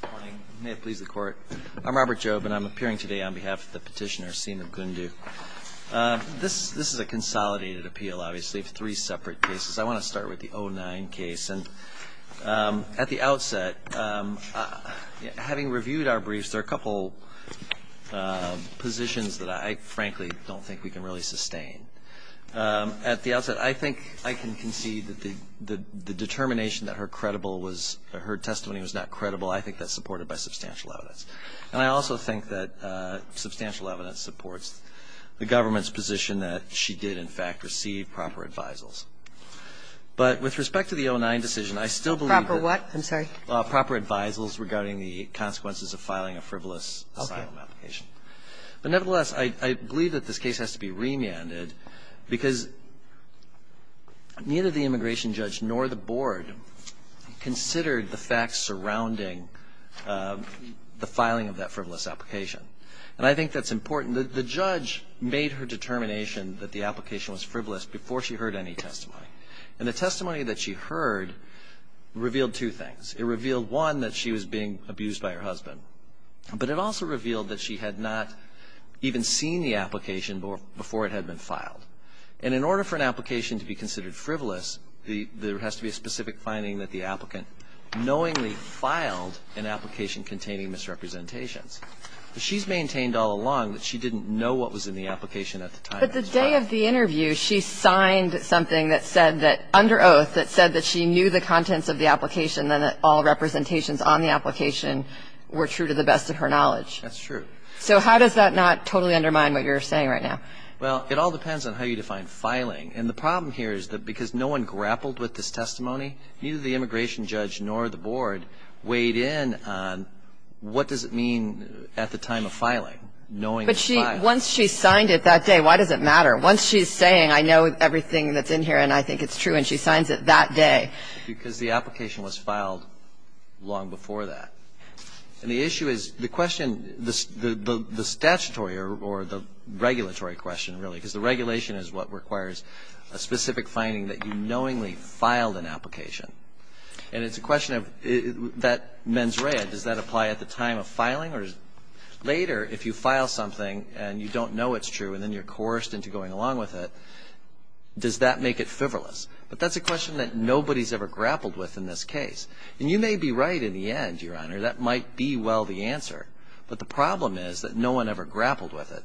Good morning. May it please the Court. I'm Robert Jobe, and I'm appearing today on behalf of the petitioner Seema Gundu. This is a consolidated appeal, obviously, of three separate cases. I want to start with the 2009 case. At the outset, having reviewed our briefs, there are a couple positions that I frankly don't think we can really sustain. At the outset, I think I can concede that the determination that her testimony was not credible, I think that's supported by substantial evidence. And I also think that substantial evidence supports the government's position that she did, in fact, receive proper advisals. But with respect to the 2009 decision, I still believe that proper advisals regarding the consequences of filing a frivolous asylum application. But nevertheless, I believe that this case has to be remanded because neither the immigration judge nor the board considered the facts surrounding the filing of that frivolous application. And I think that's important. The judge made her determination that the application was frivolous before she heard any testimony. And the testimony that she heard revealed two things. It revealed, one, that she was being abused by her husband. But it also revealed that she had not even seen the application before it had been filed. And in order for an application to be considered frivolous, there has to be a specific finding that the applicant knowingly filed an application containing misrepresentations. She's maintained all along that she didn't know what was in the application at the time. But the day of the interview, she signed something that said that, under oath, that said that she knew the contents of the application and that all representations on the application were true to the best of her knowledge. That's true. So how does that not totally undermine what you're saying right now? Well, it all depends on how you define filing. And the problem here is that because no one grappled with this testimony, neither the immigration judge nor the board weighed in on what does it mean at the time of filing, knowing the filing. But once she signed it that day, why does it matter? Once she's saying, I know everything that's in here and I think it's true, and she signs it that day. Because the application was filed long before that. And the issue is the question, the statutory or the regulatory question, really, because the regulation is what requires a specific finding that you knowingly filed an application. And it's a question of that mens rea. Does that apply at the time of filing? Or later, if you file something and you don't know it's true and then you're coerced into going along with it, does that make it fiverless? But that's a question that nobody's ever grappled with in this case. And you may be right in the end, Your Honor. That might be well the answer. But the problem is that no one ever grappled with it.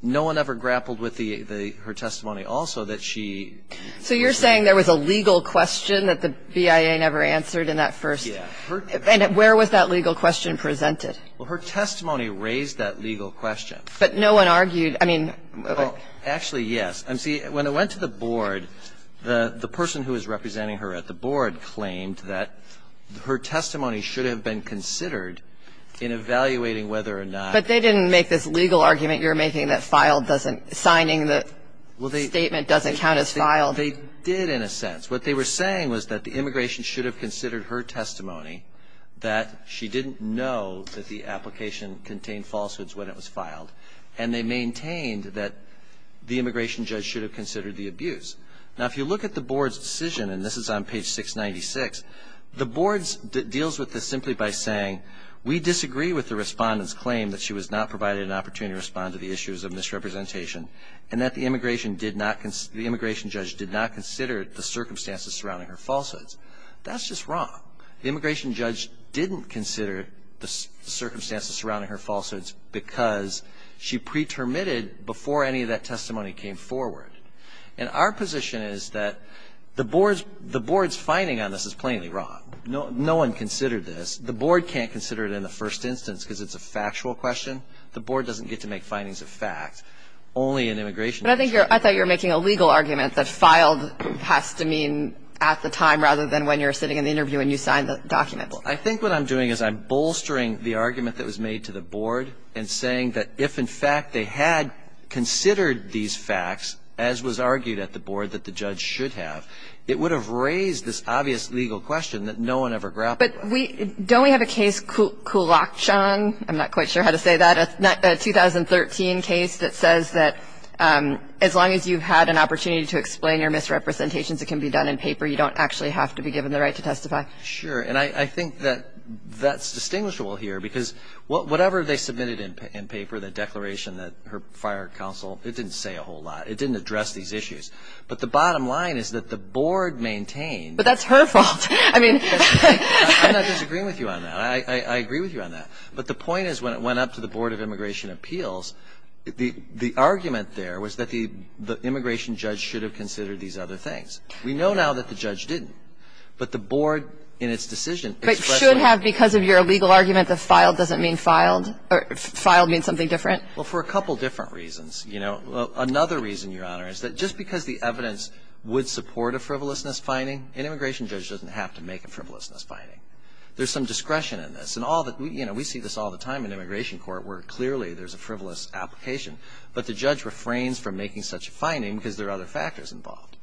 No one ever grappled with the ‑‑ her testimony also that she ‑‑ So you're saying there was a legal question that the BIA never answered in that first ‑‑ Yeah. And where was that legal question presented? Well, her testimony raised that legal question. But no one argued. I mean ‑‑ Well, actually, yes. See, when it went to the board, the person who was representing her at the board claimed that her testimony should have been considered in evaluating whether or not But they didn't make this legal argument you're making that filed doesn't ‑‑ signing the statement doesn't count as filed. They did in a sense. What they were saying was that the immigration should have considered her testimony that she didn't know that the application contained falsehoods when it was filed. And they maintained that the immigration judge should have considered the abuse. Now, if you look at the board's decision, and this is on page 696, the board deals with this simply by saying, we disagree with the respondent's claim that she was not provided an opportunity to respond to the issues of misrepresentation and that the immigration judge did not consider the circumstances surrounding her falsehoods. That's just wrong. The immigration judge didn't consider the circumstances surrounding her falsehoods because she pretermitted before any of that testimony came forward. And our position is that the board's finding on this is plainly wrong. No one considered this. The board can't consider it in the first instance because it's a factual question. The board doesn't get to make findings of fact. Only an immigration judge can. But I thought you were making a legal argument that filed has to mean at the time rather than when you're sitting in the interview and you sign the document. I think what I'm doing is I'm bolstering the argument that was made to the board and saying that if, in fact, they had considered these facts, as was argued at the board that the judge should have, it would have raised this obvious legal question that no one ever grappled with. But don't we have a case, Kulakshan, I'm not quite sure how to say that, a 2013 case that says that as long as you've had an opportunity to explain your misrepresentations, it can be done in paper. You don't actually have to be given the right to testify. Sure. And I think that that's distinguishable here because whatever they submitted in paper, the declaration that her fire counsel, it didn't say a whole lot. It didn't address these issues. But the bottom line is that the board maintained. But that's her fault. I mean. I'm not disagreeing with you on that. I agree with you on that. But the point is when it went up to the Board of Immigration Appeals, the argument there was that the immigration judge should have considered these other things. We know now that the judge didn't. But the board in its decision expressed. But should have because of your legal argument that filed doesn't mean filed, or filed means something different? Well, for a couple different reasons. You know. Another reason, Your Honor, is that just because the evidence would support a frivolousness finding, an immigration judge doesn't have to make a frivolousness finding. There's some discretion in this. And all the, you know, we see this all the time in immigration court where clearly there's a frivolous application. But the judge refrains from making such a finding because there are other factors involved.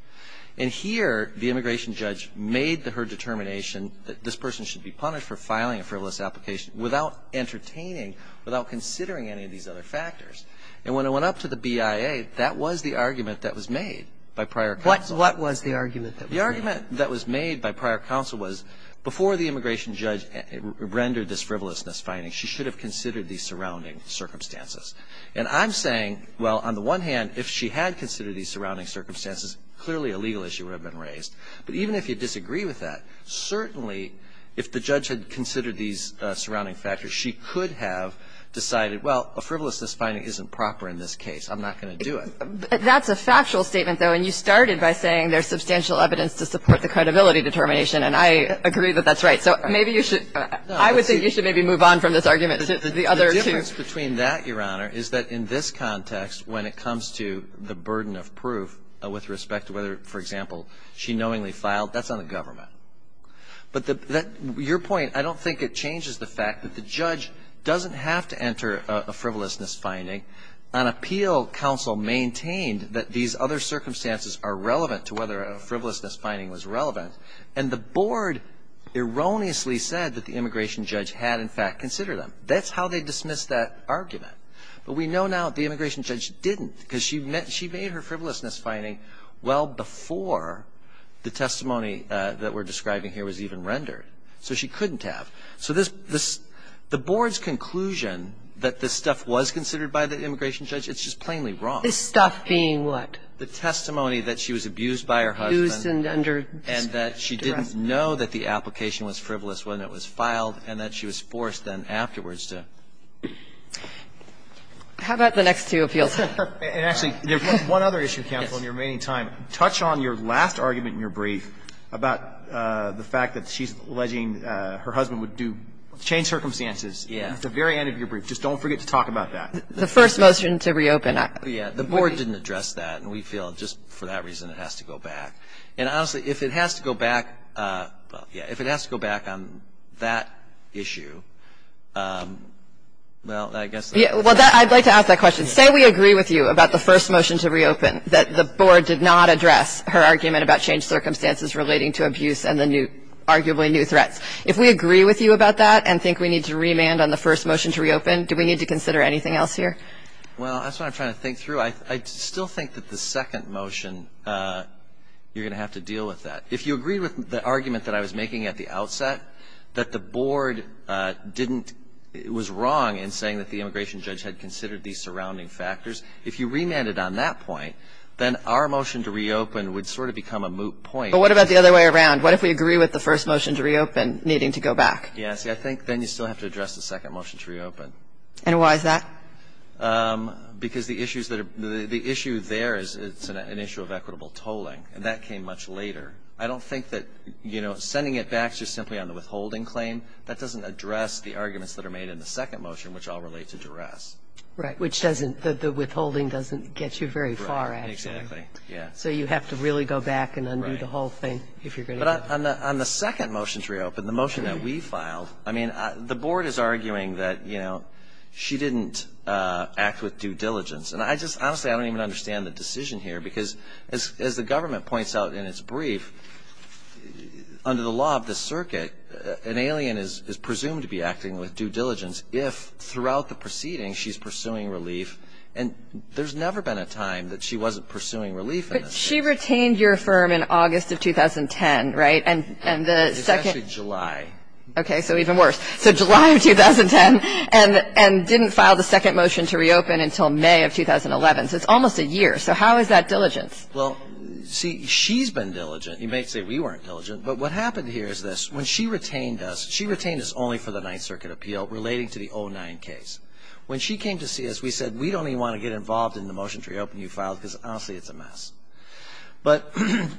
And here the immigration judge made her determination that this person should be punished for filing a frivolous application without entertaining, without considering any of these other factors. And when it went up to the BIA, that was the argument that was made by prior counsel. What was the argument that was made? The argument that was made by prior counsel was before the immigration judge rendered this frivolousness finding, she should have considered the surrounding circumstances. And I'm saying, well, on the one hand, if she had considered these surrounding circumstances, clearly a legal issue would have been raised. But even if you disagree with that, certainly if the judge had considered these surrounding factors, she could have decided, well, a frivolousness finding isn't proper in this case. I'm not going to do it. That's a factual statement, though, and you started by saying there's substantial evidence to support the credibility determination, and I agree that that's right. So maybe you should, I would think you should maybe move on from this argument to the other two. The difference between that, Your Honor, is that in this context, when it comes to the burden of proof with respect to whether, for example, she knowingly filed, that's on the government. But your point, I don't think it changes the fact that the judge doesn't have to enter a frivolousness finding. An appeal counsel maintained that these other circumstances are relevant to whether a frivolousness finding was relevant, and the board erroneously said that the immigration judge had, in fact, considered them. That's how they dismissed that argument. But we know now the immigration judge didn't, because she made her frivolousness finding well before the testimony that we're describing here was even rendered. So she couldn't have. So the board's conclusion that this stuff was considered by the immigration judge, it's just plainly wrong. This stuff being what? The testimony that she was abused by her husband. Abused and under- How about the next two appeals? And actually, there's one other issue, counsel, in your remaining time. Touch on your last argument in your brief about the fact that she's alleging her husband would do, change circumstances. Yeah. At the very end of your brief. Just don't forget to talk about that. The first motion to reopen. Yeah. The board didn't address that, and we feel just for that reason it has to go back. And honestly, if it has to go back, well, yeah, if it has to go back on that issue, well, I guess- Well, I'd like to ask that question. Say we agree with you about the first motion to reopen, that the board did not address her argument about changed circumstances relating to abuse and the new, arguably new threats. If we agree with you about that and think we need to remand on the first motion to reopen, do we need to consider anything else here? Well, that's what I'm trying to think through. I still think that the second motion, you're going to have to deal with that. If you agree with the argument that I was making at the outset, that the board was wrong in saying that the immigration judge had considered these surrounding factors, if you remanded on that point, then our motion to reopen would sort of become a moot point. But what about the other way around? What if we agree with the first motion to reopen needing to go back? Yeah, see, I think then you still have to address the second motion to reopen. And why is that? Because the issue there is it's an issue of equitable tolling. And that came much later. I don't think that, you know, sending it back just simply on the withholding claim, that doesn't address the arguments that are made in the second motion, which all relate to duress. Right, which doesn't – the withholding doesn't get you very far, actually. Right, exactly, yeah. So you have to really go back and undo the whole thing if you're going to do that. But on the second motion to reopen, the motion that we filed, I mean, the board is arguing that, you know, she didn't act with due diligence. And I just – honestly, I don't even understand the decision here, because as the government points out in its brief, under the law of the circuit, an alien is presumed to be acting with due diligence if throughout the proceeding she's pursuing relief. And there's never been a time that she wasn't pursuing relief in this case. But she retained your firm in August of 2010, right? And the second – It's actually July. Okay. So even worse. So July of 2010, and didn't file the second motion to reopen until May of 2011. So it's almost a year. So how is that diligence? Well, see, she's been diligent. You may say we weren't diligent. But what happened here is this. When she retained us, she retained us only for the Ninth Circuit appeal relating to the 09 case. When she came to see us, we said we don't even want to get involved in the motion to reopen you filed, because honestly, it's a mess. But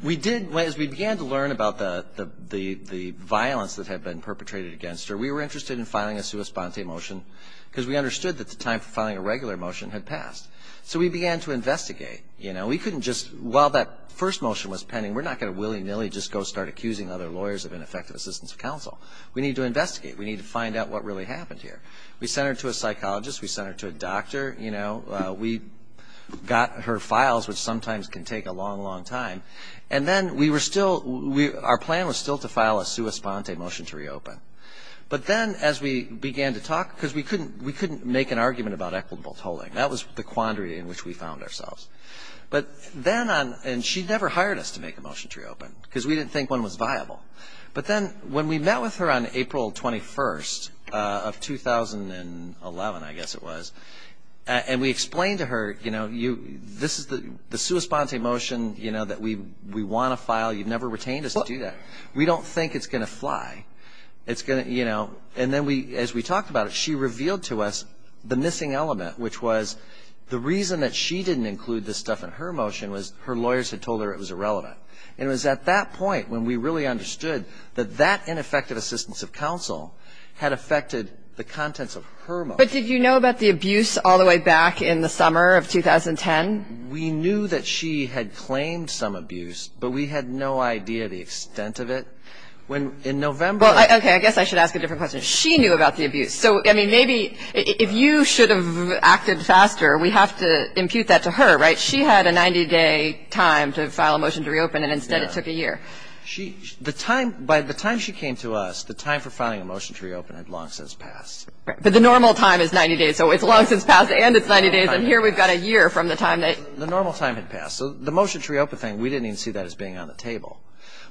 we did – as we began to learn about the violence that had been perpetrated against her, we were interested in filing a sua sponte motion, because we understood that the time for filing a regular motion had passed. So we began to investigate. You know, we couldn't just – while that first motion was pending, we're not going to willy-nilly just go start accusing other lawyers of ineffective assistance of counsel. We need to investigate. We need to find out what really happened here. We sent her to a psychologist. We sent her to a doctor. You know, we got her files, which sometimes can take a long, long time. And then we were still – our plan was still to file a sua sponte motion to reopen. But then as we began to talk – because we couldn't make an argument about equitable tolling. That was the quandary in which we found ourselves. But then on – and she never hired us to make a motion to reopen, because we didn't think one was viable. But then when we met with her on April 21st of 2011, I guess it was, and we explained to her, you know, this is the sua sponte motion, you know, that we want to file. You've never retained us to do that. We don't think it's going to fly. It's going to, you know – and then as we talked about it, she revealed to us the missing element, which was the reason that she didn't include this stuff in her motion was her lawyers had told her it was irrelevant. And it was at that point when we really understood that that ineffective assistance of counsel had affected the contents of her motion. But did you know about the abuse all the way back in the summer of 2010? We knew that she had claimed some abuse, but we had no idea the extent of it. In November – Well, okay, I guess I should ask a different question. She knew about the abuse. So, I mean, maybe if you should have acted faster, we have to impute that to her, right? But she had a 90-day time to file a motion to reopen, and instead it took a year. She – the time – by the time she came to us, the time for filing a motion to reopen had long since passed. But the normal time is 90 days, so it's long since passed and it's 90 days, and here we've got a year from the time that – The normal time had passed. So the motion to reopen thing, we didn't even see that as being on the table.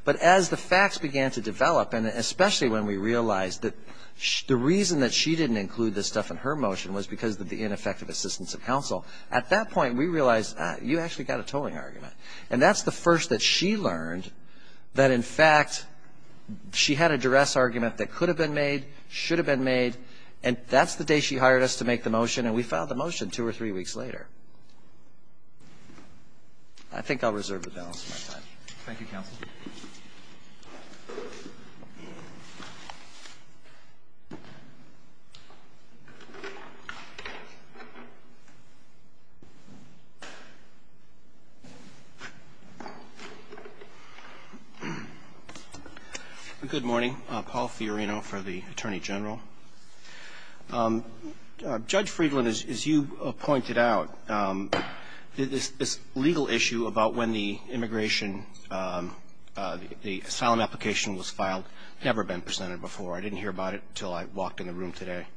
But as the facts began to develop, and especially when we realized that the reason that she didn't include this stuff in her motion was because of the ineffective assistance of counsel, at that point we realized, ah, you actually got a tolling argument. And that's the first that she learned that, in fact, she had a duress argument that could have been made, should have been made, and that's the day she hired us to make the motion, and we filed the motion two or three weeks later. I think I'll reserve the balance of my time. Thank you, counsel. Good morning. Paul Fiorino for the Attorney General. Judge Friedland, as you pointed out, this legal issue about when the immigration – the asylum application was filed, never been presented before. I didn't hear about it until I walked in the room today.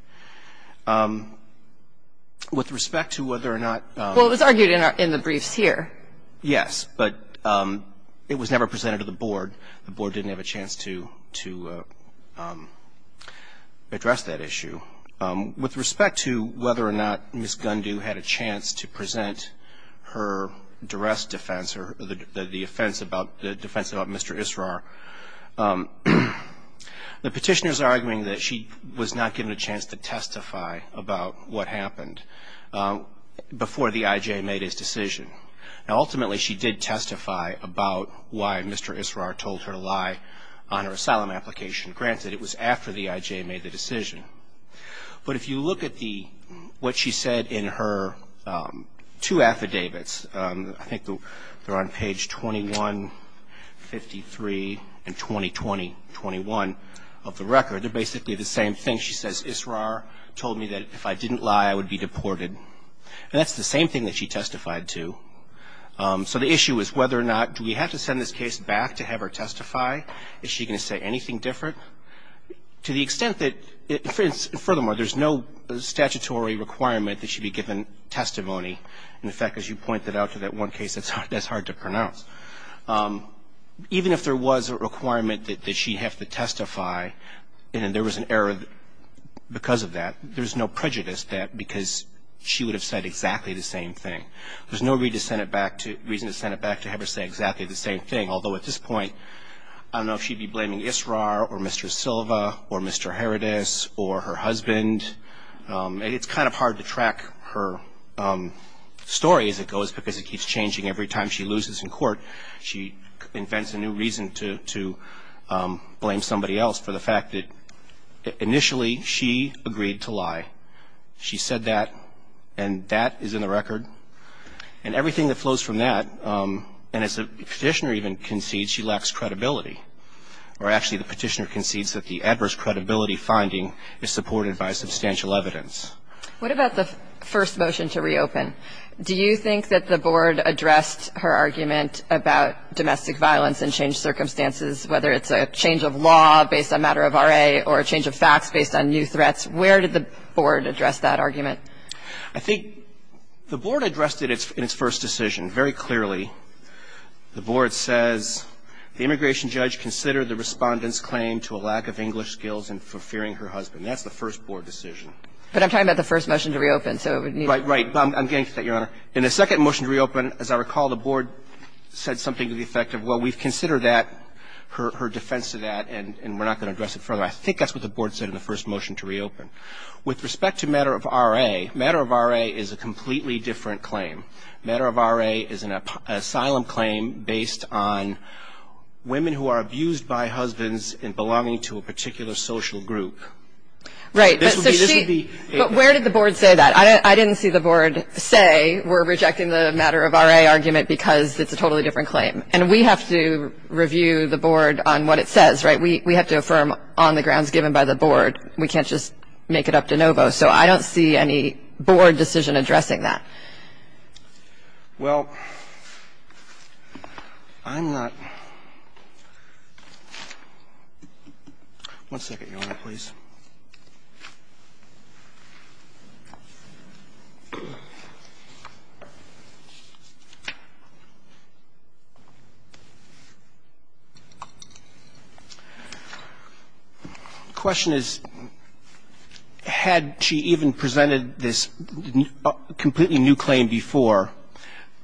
With respect to whether or not – Well, it was argued in the briefs here. Yes, but it was never presented to the board. The board didn't have a chance to address that issue. With respect to whether or not Ms. Gundew had a chance to present her duress defense or the defense about Mr. Israr, the petitioners are arguing that she was not given a chance to testify about what happened before the IJ made his decision. Now, ultimately, she did testify about why Mr. Israr told her to lie on her asylum application. Granted, it was after the IJ made the decision, but if you look at what she said in her two affidavits, I think they're on page 2153 and 2020-21 of the record, they're basically the same thing. She says, Israr told me that if I didn't lie, I would be deported. And that's the same thing that she testified to. So the issue is whether or not do we have to send this case back to have her testify? Is she going to say anything different? To the extent that – furthermore, there's no statutory requirement that she be given testimony. In fact, as you pointed out to that one case, that's hard to pronounce. Even if there was a requirement that she have to testify and there was an error because of that, there's no prejudice that because she would have said exactly the same thing. There's no reason to send it back to have her say exactly the same thing, although at this point I don't know if she'd be blaming Israr or Mr. Silva or Mr. Herodas or her husband. It's kind of hard to track her story as it goes because it keeps changing every time she loses in court. She invents a new reason to blame somebody else for the fact that initially she agreed to lie. She said that, and that is in the record. And everything that flows from that, and as the Petitioner even concedes, she lacks credibility, or actually the Petitioner concedes that the adverse credibility finding is supported by substantial evidence. What about the first motion to reopen? Do you think that the Board addressed her argument about domestic violence and changed circumstances, whether it's a change of law based on matter of RA or a change of facts based on new threats? Where did the Board address that argument? I think the Board addressed it in its first decision very clearly. The Board says the immigration judge considered the Respondent's claim to a lack of English skills and for fearing her husband. That's the first Board decision. But I'm talking about the first motion to reopen. Right, right. I'm getting to that, Your Honor. In the second motion to reopen, as I recall, the Board said something to the effect of, well, we've considered that, her defense to that, and we're not going to address it further. I think that's what the Board said in the first motion to reopen. With respect to matter of RA, matter of RA is a completely different claim. Matter of RA is an asylum claim based on women who are abused by husbands and belonging to a particular social group. Right. This would be the ---- But where did the Board say that? I didn't see the Board say we're rejecting the matter of RA argument because it's a totally different claim. And we have to review the Board on what it says. Right? We have to affirm on the grounds given by the Board. We can't just make it up de novo. So I don't see any Board decision addressing that. Well, I'm not ---- One second, Your Honor, please. The question is, had she even presented this completely new claim before,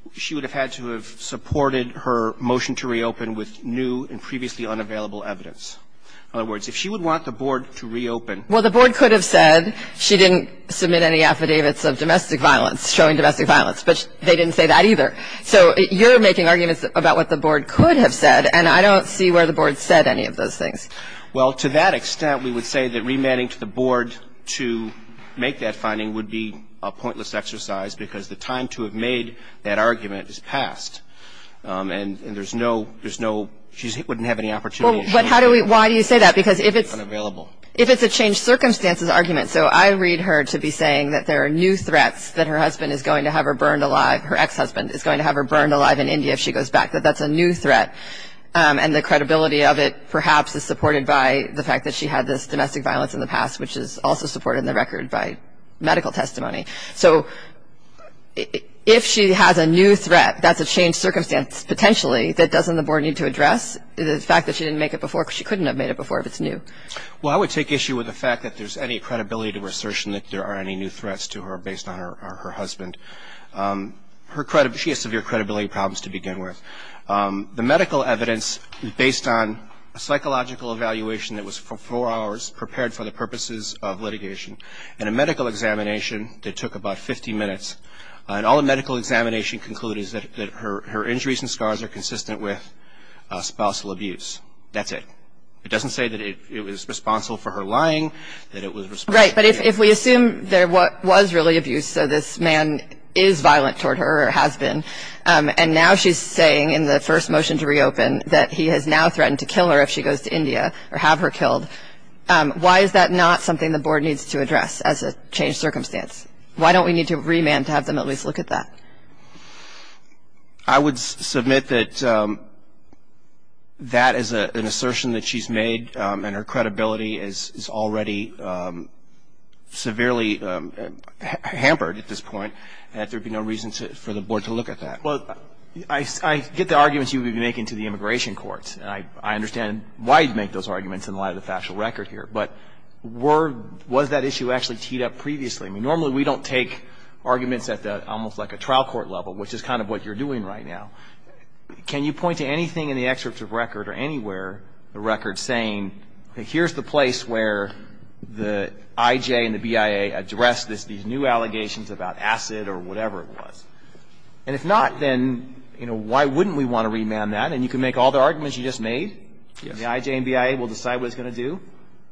would she have had to have supported her motion to reopen with new and previously unavailable evidence? In other words, if she would want the Board to reopen ---- Well, the Board could have said she didn't submit any affidavits of domestic violence, showing domestic violence, but they didn't say that either. So you're making arguments about what the Board could have said, and I don't see where the Board said any of those things. Well, to that extent, we would say that remanding to the Board to make that finding would be a pointless exercise because the time to have made that argument is past. And there's no ---- She wouldn't have any opportunity to ---- Well, but how do we ---- Why do you say that? Because if it's a changed circumstances argument, so I read her to be saying that there are new threats that her husband is going to have her burned alive, her ex-husband is going to have her burned alive in India if she goes back, that that's a new threat. And the credibility of it perhaps is supported by the fact that she had this domestic violence in the past, which is also supported in the record by medical testimony. So if she has a new threat that's a changed circumstance potentially that doesn't the Board need to address, the fact that she didn't make it before, because she couldn't have made it before if it's new. Well, I would take issue with the fact that there's any credibility to her assertion that there are any new threats to her based on her husband. Her credibility ---- She has severe credibility problems to begin with. The medical evidence based on a psychological evaluation that was for four hours prepared for the purposes of litigation and a medical examination that took about 50 minutes, and all the medical examination concluded that her injuries and scars are consistent with spousal abuse. That's it. It doesn't say that it was responsible for her lying, that it was responsible for ---- Right, but if we assume there was really abuse, so this man is violent toward her husband, and now she's saying in the first motion to reopen that he has now threatened to kill her if she goes to India or have her killed, why is that not something the Board needs to address as a changed circumstance? Why don't we need to remand to have them at least look at that? I would submit that that is an assertion that she's made, and her credibility is Well, I get the arguments you would be making to the immigration courts, and I understand why you'd make those arguments in light of the factual record here. But was that issue actually teed up previously? I mean, normally we don't take arguments at almost like a trial court level, which is kind of what you're doing right now. Can you point to anything in the excerpt of record or anywhere, the record saying, here's the place where the IJ and the BIA addressed these new allegations about acid or whatever it was? And if not, then why wouldn't we want to remand that? And you can make all the arguments you just made. The IJ and BIA will decide what it's going to do.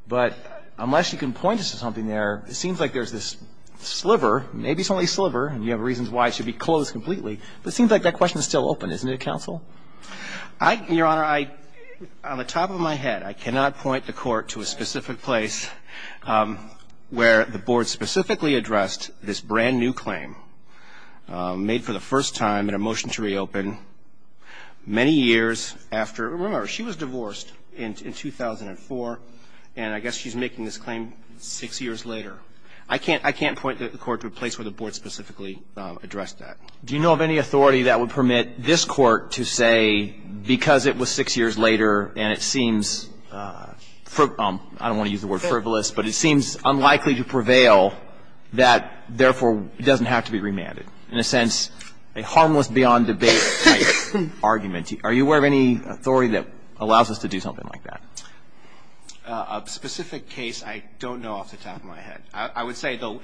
But unless you can point us to something there, it seems like there's this sliver, maybe it's only a sliver, and you have reasons why it should be closed completely, but it seems like that question is still open. Isn't it, counsel? Your Honor, on the top of my head, I cannot point the Court to a specific place where the Board specifically addressed this brand new claim made for the first time in a motion to reopen many years after. Remember, she was divorced in 2004, and I guess she's making this claim six years later. I can't point the Court to a place where the Board specifically addressed that. Do you know of any authority that would permit this Court to say, because it was six years later and it seems, I don't want to use the word frivolous, but it seems unlikely to prevail that, therefore, it doesn't have to be remanded? In a sense, a harmless beyond debate type argument. Are you aware of any authority that allows us to do something like that? A specific case, I don't know off the top of my head. I would say, though,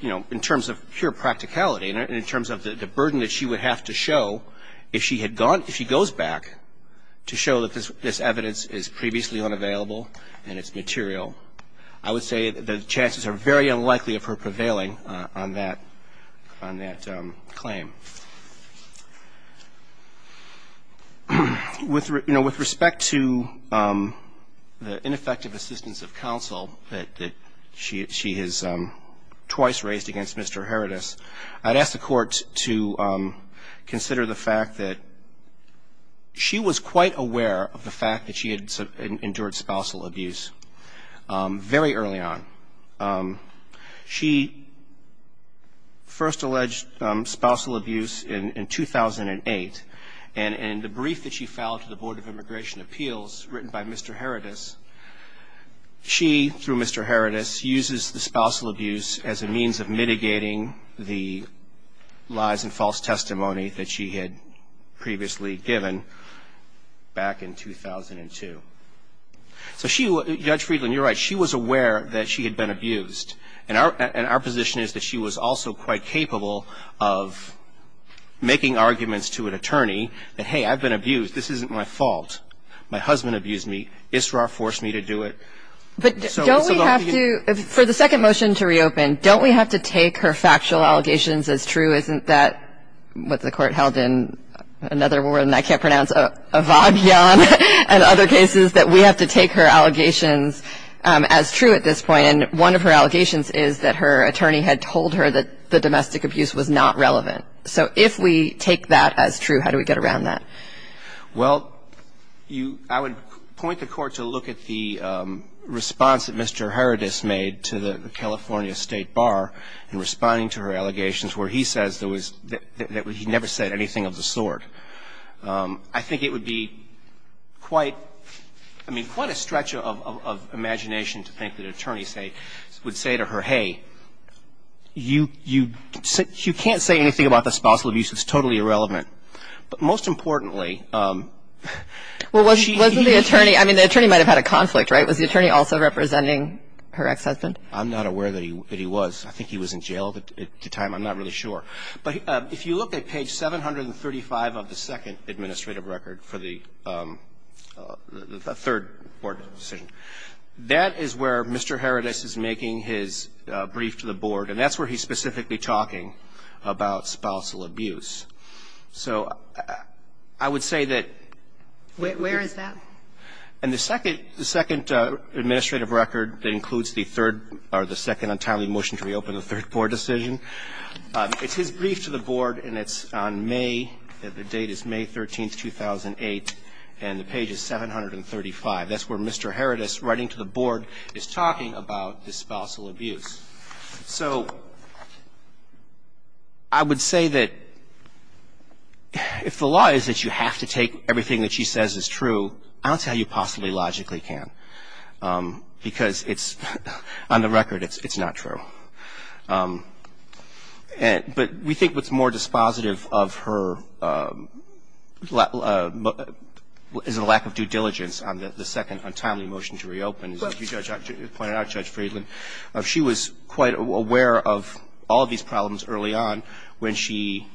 you know, in terms of pure practicality and in terms of the burden that she would have to show if she had gone, if she goes back to show that this evidence is previously unavailable and it's material, I would say the chances are very unlikely of her prevailing on that claim. You know, with respect to the ineffective assistance of counsel that she has twice raised against Mr. Herodas, I'd ask the Court to consider the fact that she was quite aware of the fact that she had endured spousal abuse very early on. She first alleged spousal abuse in 2008, and in the brief that she filed to the Board of Immigration Appeals written by Mr. Herodas, she, through Mr. Herodas, uses the spousal abuse as a means of mitigating the lies and false testimony that she had previously given back in 2002. So she, Judge Friedland, you're right, she was aware that she had been abused. And our position is that she was also quite capable of making arguments to an attorney that, hey, I've been abused. This isn't my fault. My husband abused me. Isra forced me to do it. But don't we have to, for the second motion to reopen, don't we have to take her factual allegations as true? Isn't that what the Court held in another word, and I can't pronounce, Avadian and other cases, that we have to take her allegations as true at this point? And one of her allegations is that her attorney had told her that the domestic abuse was not relevant. So if we take that as true, how do we get around that? Well, I would point the Court to look at the response that Mr. Herodas made to the case. He said that he never said anything of the sort. I think it would be quite, I mean, quite a stretch of imagination to think that an attorney would say to her, hey, you can't say anything about the spousal abuse. It's totally irrelevant. But most importantly, she... Well, wasn't the attorney, I mean, the attorney might have had a conflict, right? Was the attorney also representing her ex-husband? I'm not aware that he was. I think he was in jail at the time. I'm not really sure. But if you look at page 735 of the second administrative record for the third board decision, that is where Mr. Herodas is making his brief to the board, and that's where he's specifically talking about spousal abuse. So I would say that... Where is that? In the second administrative record that includes the third or the second untimely motion to reopen the third board decision. It's his brief to the board, and it's on May. The date is May 13th, 2008, and the page is 735. That's where Mr. Herodas, writing to the board, is talking about the spousal abuse. So I would say that if the law is that you have to take everything that she says is true, I don't see how you possibly logically can, because it's, on the record, it's not true. But we think what's more dispositive of her is a lack of due diligence on the second untimely motion to reopen. As you pointed out, Judge Friedland, she was quite aware of all of these problems early on. When she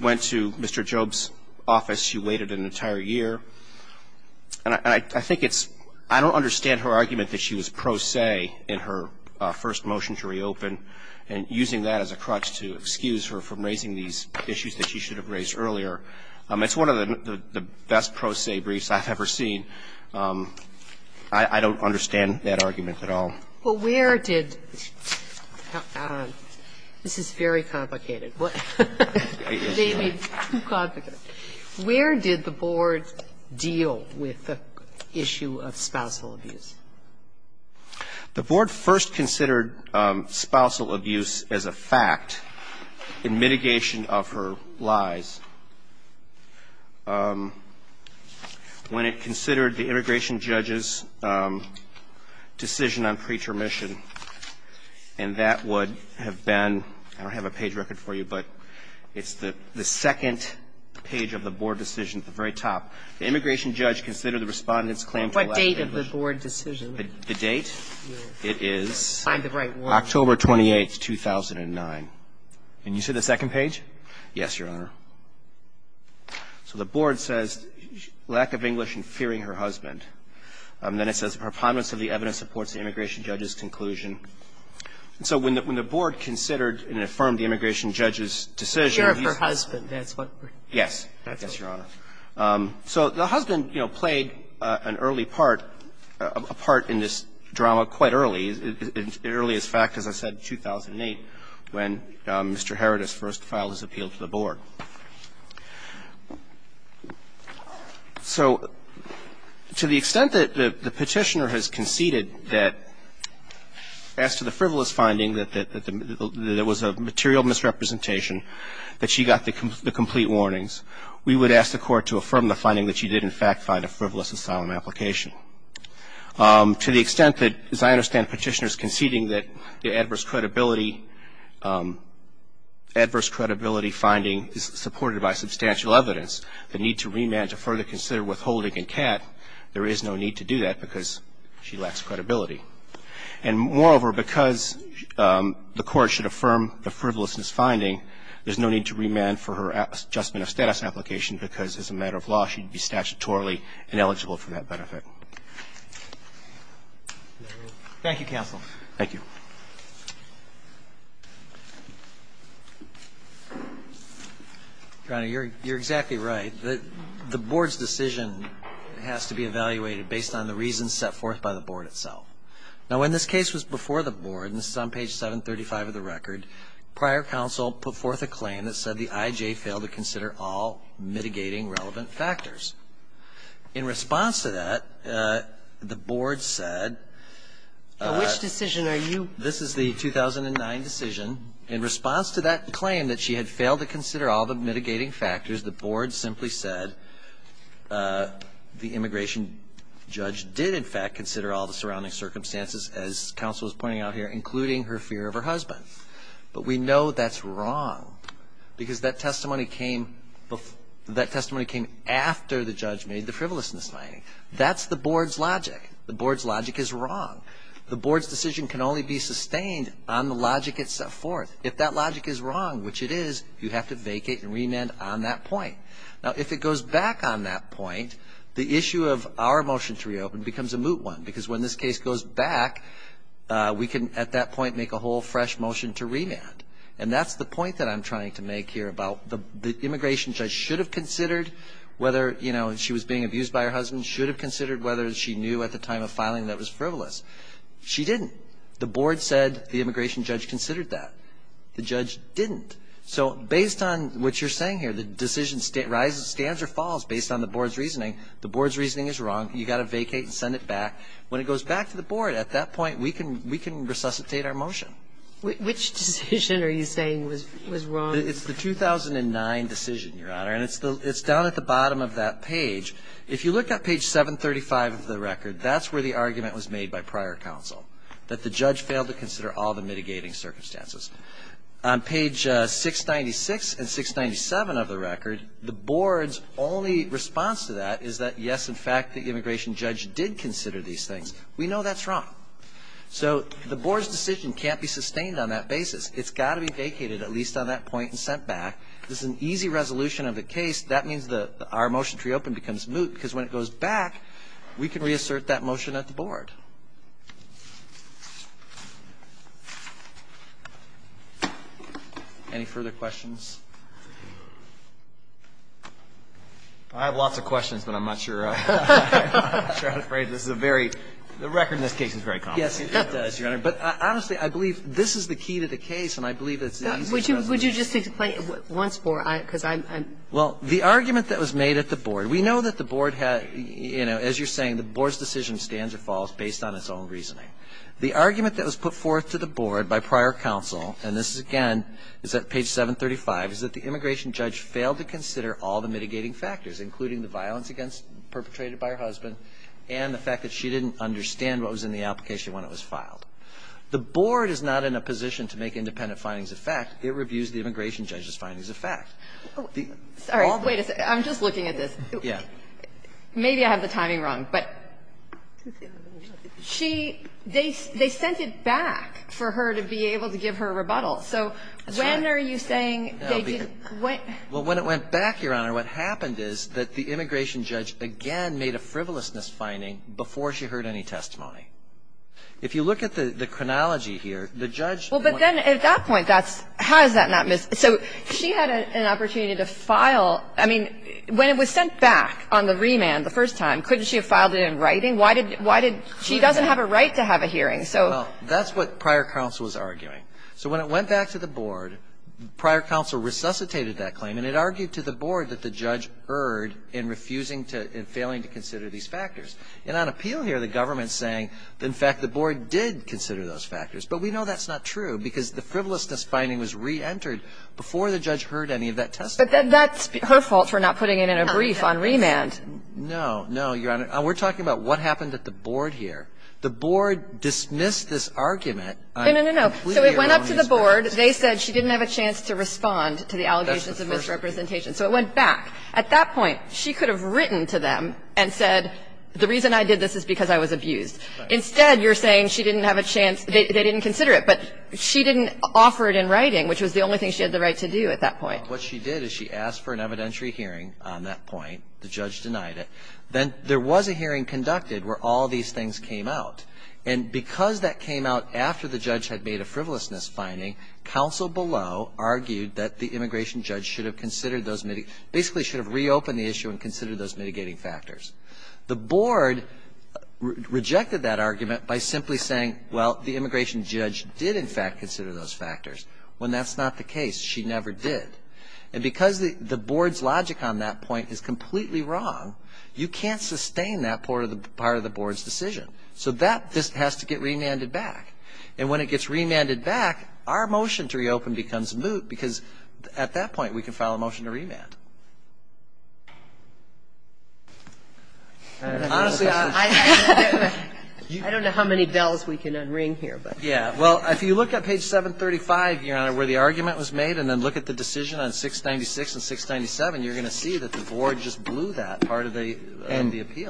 went to Mr. Job's office, she waited an entire year. And I think it's – I don't understand her argument that she was pro se in her first motion to reopen, and using that as a crutch to excuse her from raising these issues that she should have raised earlier. It's one of the best pro se briefs I've ever seen. I don't understand that argument at all. But where did – this is very complicated. Maybe too complicated. But where did the Board deal with the issue of spousal abuse? The Board first considered spousal abuse as a fact in mitigation of her lies when it considered the immigration judge's decision on pretermission, and that would have been – I don't have a page record for you, but it's the second page of the Board decision at the very top. The immigration judge considered the Respondent's claim to lack of English. What date of the Board decision? The date? It is October 28th, 2009. Can you see the second page? Yes, Your Honor. So the Board says lack of English and fearing her husband. Then it says her prominence of the evidence supports the immigration judge's conclusion. So when the Board considered and affirmed the immigration judge's decision. Fear of her husband. Yes. Yes, Your Honor. So the husband, you know, played an early part, a part in this drama quite early, as early as fact, as I said, 2008, when Mr. Herita's first file was appealed to the Board. So to the extent that the Petitioner has conceded that, as to the frivolous finding that there was a material misrepresentation, that she got the complete warnings, we would ask the Court to affirm the finding that she did, in fact, find a frivolous asylum application. To the extent that, as I understand Petitioner's conceding that the adverse credibility finding is supported by substantial evidence, the need to remand to further consider withholding and CAT, there is no need to do that because she lacks credibility. And moreover, because the Court should affirm the frivolousness finding, there's no need to remand for her adjustment of status application because, as a matter of law, she'd be statutorily ineligible for that benefit. Thank you, counsel. Thank you. Browning, you're exactly right. The Board's decision has to be evaluated based on the reasons set forth by the Board itself. Now, when this case was before the Board, and this is on page 735 of the record, prior counsel put forth a claim that said the IJ failed to consider all mitigating relevant factors. In response to that, the Board said… Now, which decision are you… This is the 2009 decision. In response to that claim that she had failed to consider all the mitigating factors, the Board simply said the immigration judge did, in fact, consider all the surrounding circumstances, as counsel is pointing out here, including her fear of her husband. But we know that's wrong because that testimony came before… that testimony came after the judge made the frivolousness finding. That's the Board's logic. The Board's logic is wrong. The Board's decision can only be sustained on the logic it set forth. If that logic is wrong, which it is, you have to vacate and remand on that point. Now, if it goes back on that point, the issue of our motion to reopen becomes a moot one because when this case goes back, we can, at that point, make a whole fresh motion to remand. And that's the point that I'm trying to make here about the immigration judge should have considered whether, you know, she was being abused by her husband, should have considered whether she knew at the time of filing that was frivolous. She didn't. The Board said the immigration judge considered that. The judge didn't. So based on what you're saying here, the decision stands or falls based on the Board's reasoning. The Board's reasoning is wrong. You've got to vacate and send it back. When it goes back to the Board, at that point, we can resuscitate our motion. Which decision are you saying was wrong? It's the 2009 decision, Your Honor. And it's down at the bottom of that page. If you look at page 735 of the record, that's where the argument was made by prior counsel, that the judge failed to consider all the mitigating circumstances. On page 696 and 697 of the record, the Board's only response to that is that, yes, in fact, the immigration judge did consider these things. We know that's wrong. So the Board's decision can't be sustained on that basis. It's got to be vacated, at least on that point, and sent back. This is an easy resolution of the case. That means our motion to reopen becomes moot because when it goes back, we can reassert that motion at the Board. Any further questions? I have lots of questions, but I'm not sure how to phrase this. The record in this case is very complex. Yes, it does, Your Honor. But honestly, I believe this is the key to the case, and I believe it's an easy resolution. Would you just explain once more, because I'm ‑‑ Well, the argument that was made at the Board, we know that the Board had, you know, as you're saying, the Board's decision stands or falls based on its own reasoning. The argument that was put forth to the Board by prior counsel, and this is again is at page 735, is that the immigration judge failed to consider all the mitigating factors, including the violence against ‑‑ perpetrated by her husband and the fact that she didn't understand what was in the application when it was filed. The Board is not in a position to make independent findings of fact. It reviews the immigration judge's findings of fact. Sorry. Wait a second. I'm just looking at this. Yeah. Maybe I have the timing wrong, but she ‑‑ they sent it back for her to be able to give her a rebuttal. So when are you saying they didn't ‑‑ Well, when it went back, Your Honor, what happened is that the immigration judge again made a frivolousness finding before she heard any testimony. If you look at the chronology here, the judge ‑‑ Well, but then at that point, that's ‑‑ how is that not ‑‑ so she had an opportunity to file, I mean, when it was sent back on the remand the first time, couldn't she have filed it in writing? Why did ‑‑ she doesn't have a right to have a hearing. So ‑‑ Well, that's what prior counsel was arguing. So when it went back to the Board, prior counsel resuscitated that claim, and it argued to the Board that the judge erred in refusing to ‑‑ in failing to consider these factors. And on appeal here, the government is saying, in fact, the Board did consider those factors. But we know that's not true, because the frivolousness finding was reentered before the judge heard any of that testimony. But that's her fault for not putting it in a brief on remand. No. No, Your Honor. We're talking about what happened at the Board here. The Board dismissed this argument. No, no, no, no. So it went up to the Board. They said she didn't have a chance to respond to the allegations of misrepresentation. So it went back. At that point, she could have written to them and said, the reason I did this is because I was abused. Instead, you're saying she didn't have a chance ‑‑ they didn't consider it. But she didn't offer it in writing, which was the only thing she had the right to do at that point. What she did is she asked for an evidentiary hearing on that point. The judge denied it. Then there was a hearing conducted where all these things came out. And because that came out after the judge had made a frivolousness finding, counsel below argued that the immigration judge should have considered those ‑‑ basically should have reopened the issue and considered those mitigating factors. The Board rejected that argument by simply saying, well, the immigration judge did in fact consider those factors. When that's not the case, she never did. And because the Board's logic on that point is completely wrong, you can't sustain that part of the Board's decision. So that just has to get remanded back. And when it gets remanded back, our motion to reopen becomes moot because at that point we can file a motion to remand. Honestly, I ‑‑ I don't know how many bells we can unring here. Yeah. Well, if you look at page 735, Your Honor, where the argument was made and then look at the decision on 696 and 697, you're going to see that the Board just blew that part of the appeal.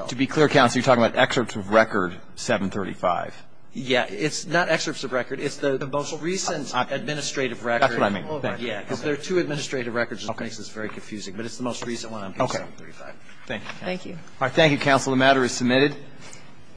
And to be clear, counsel, you're talking about excerpts of record 735. Yeah. It's not excerpts of record. It's the most recent administrative record. That's what I mean. Yeah. Because there are two administrative records. Okay. It makes this very confusing. But it's the most recent one on page 735. Okay. Thank you. Thank you. All right. Thank you, counsel.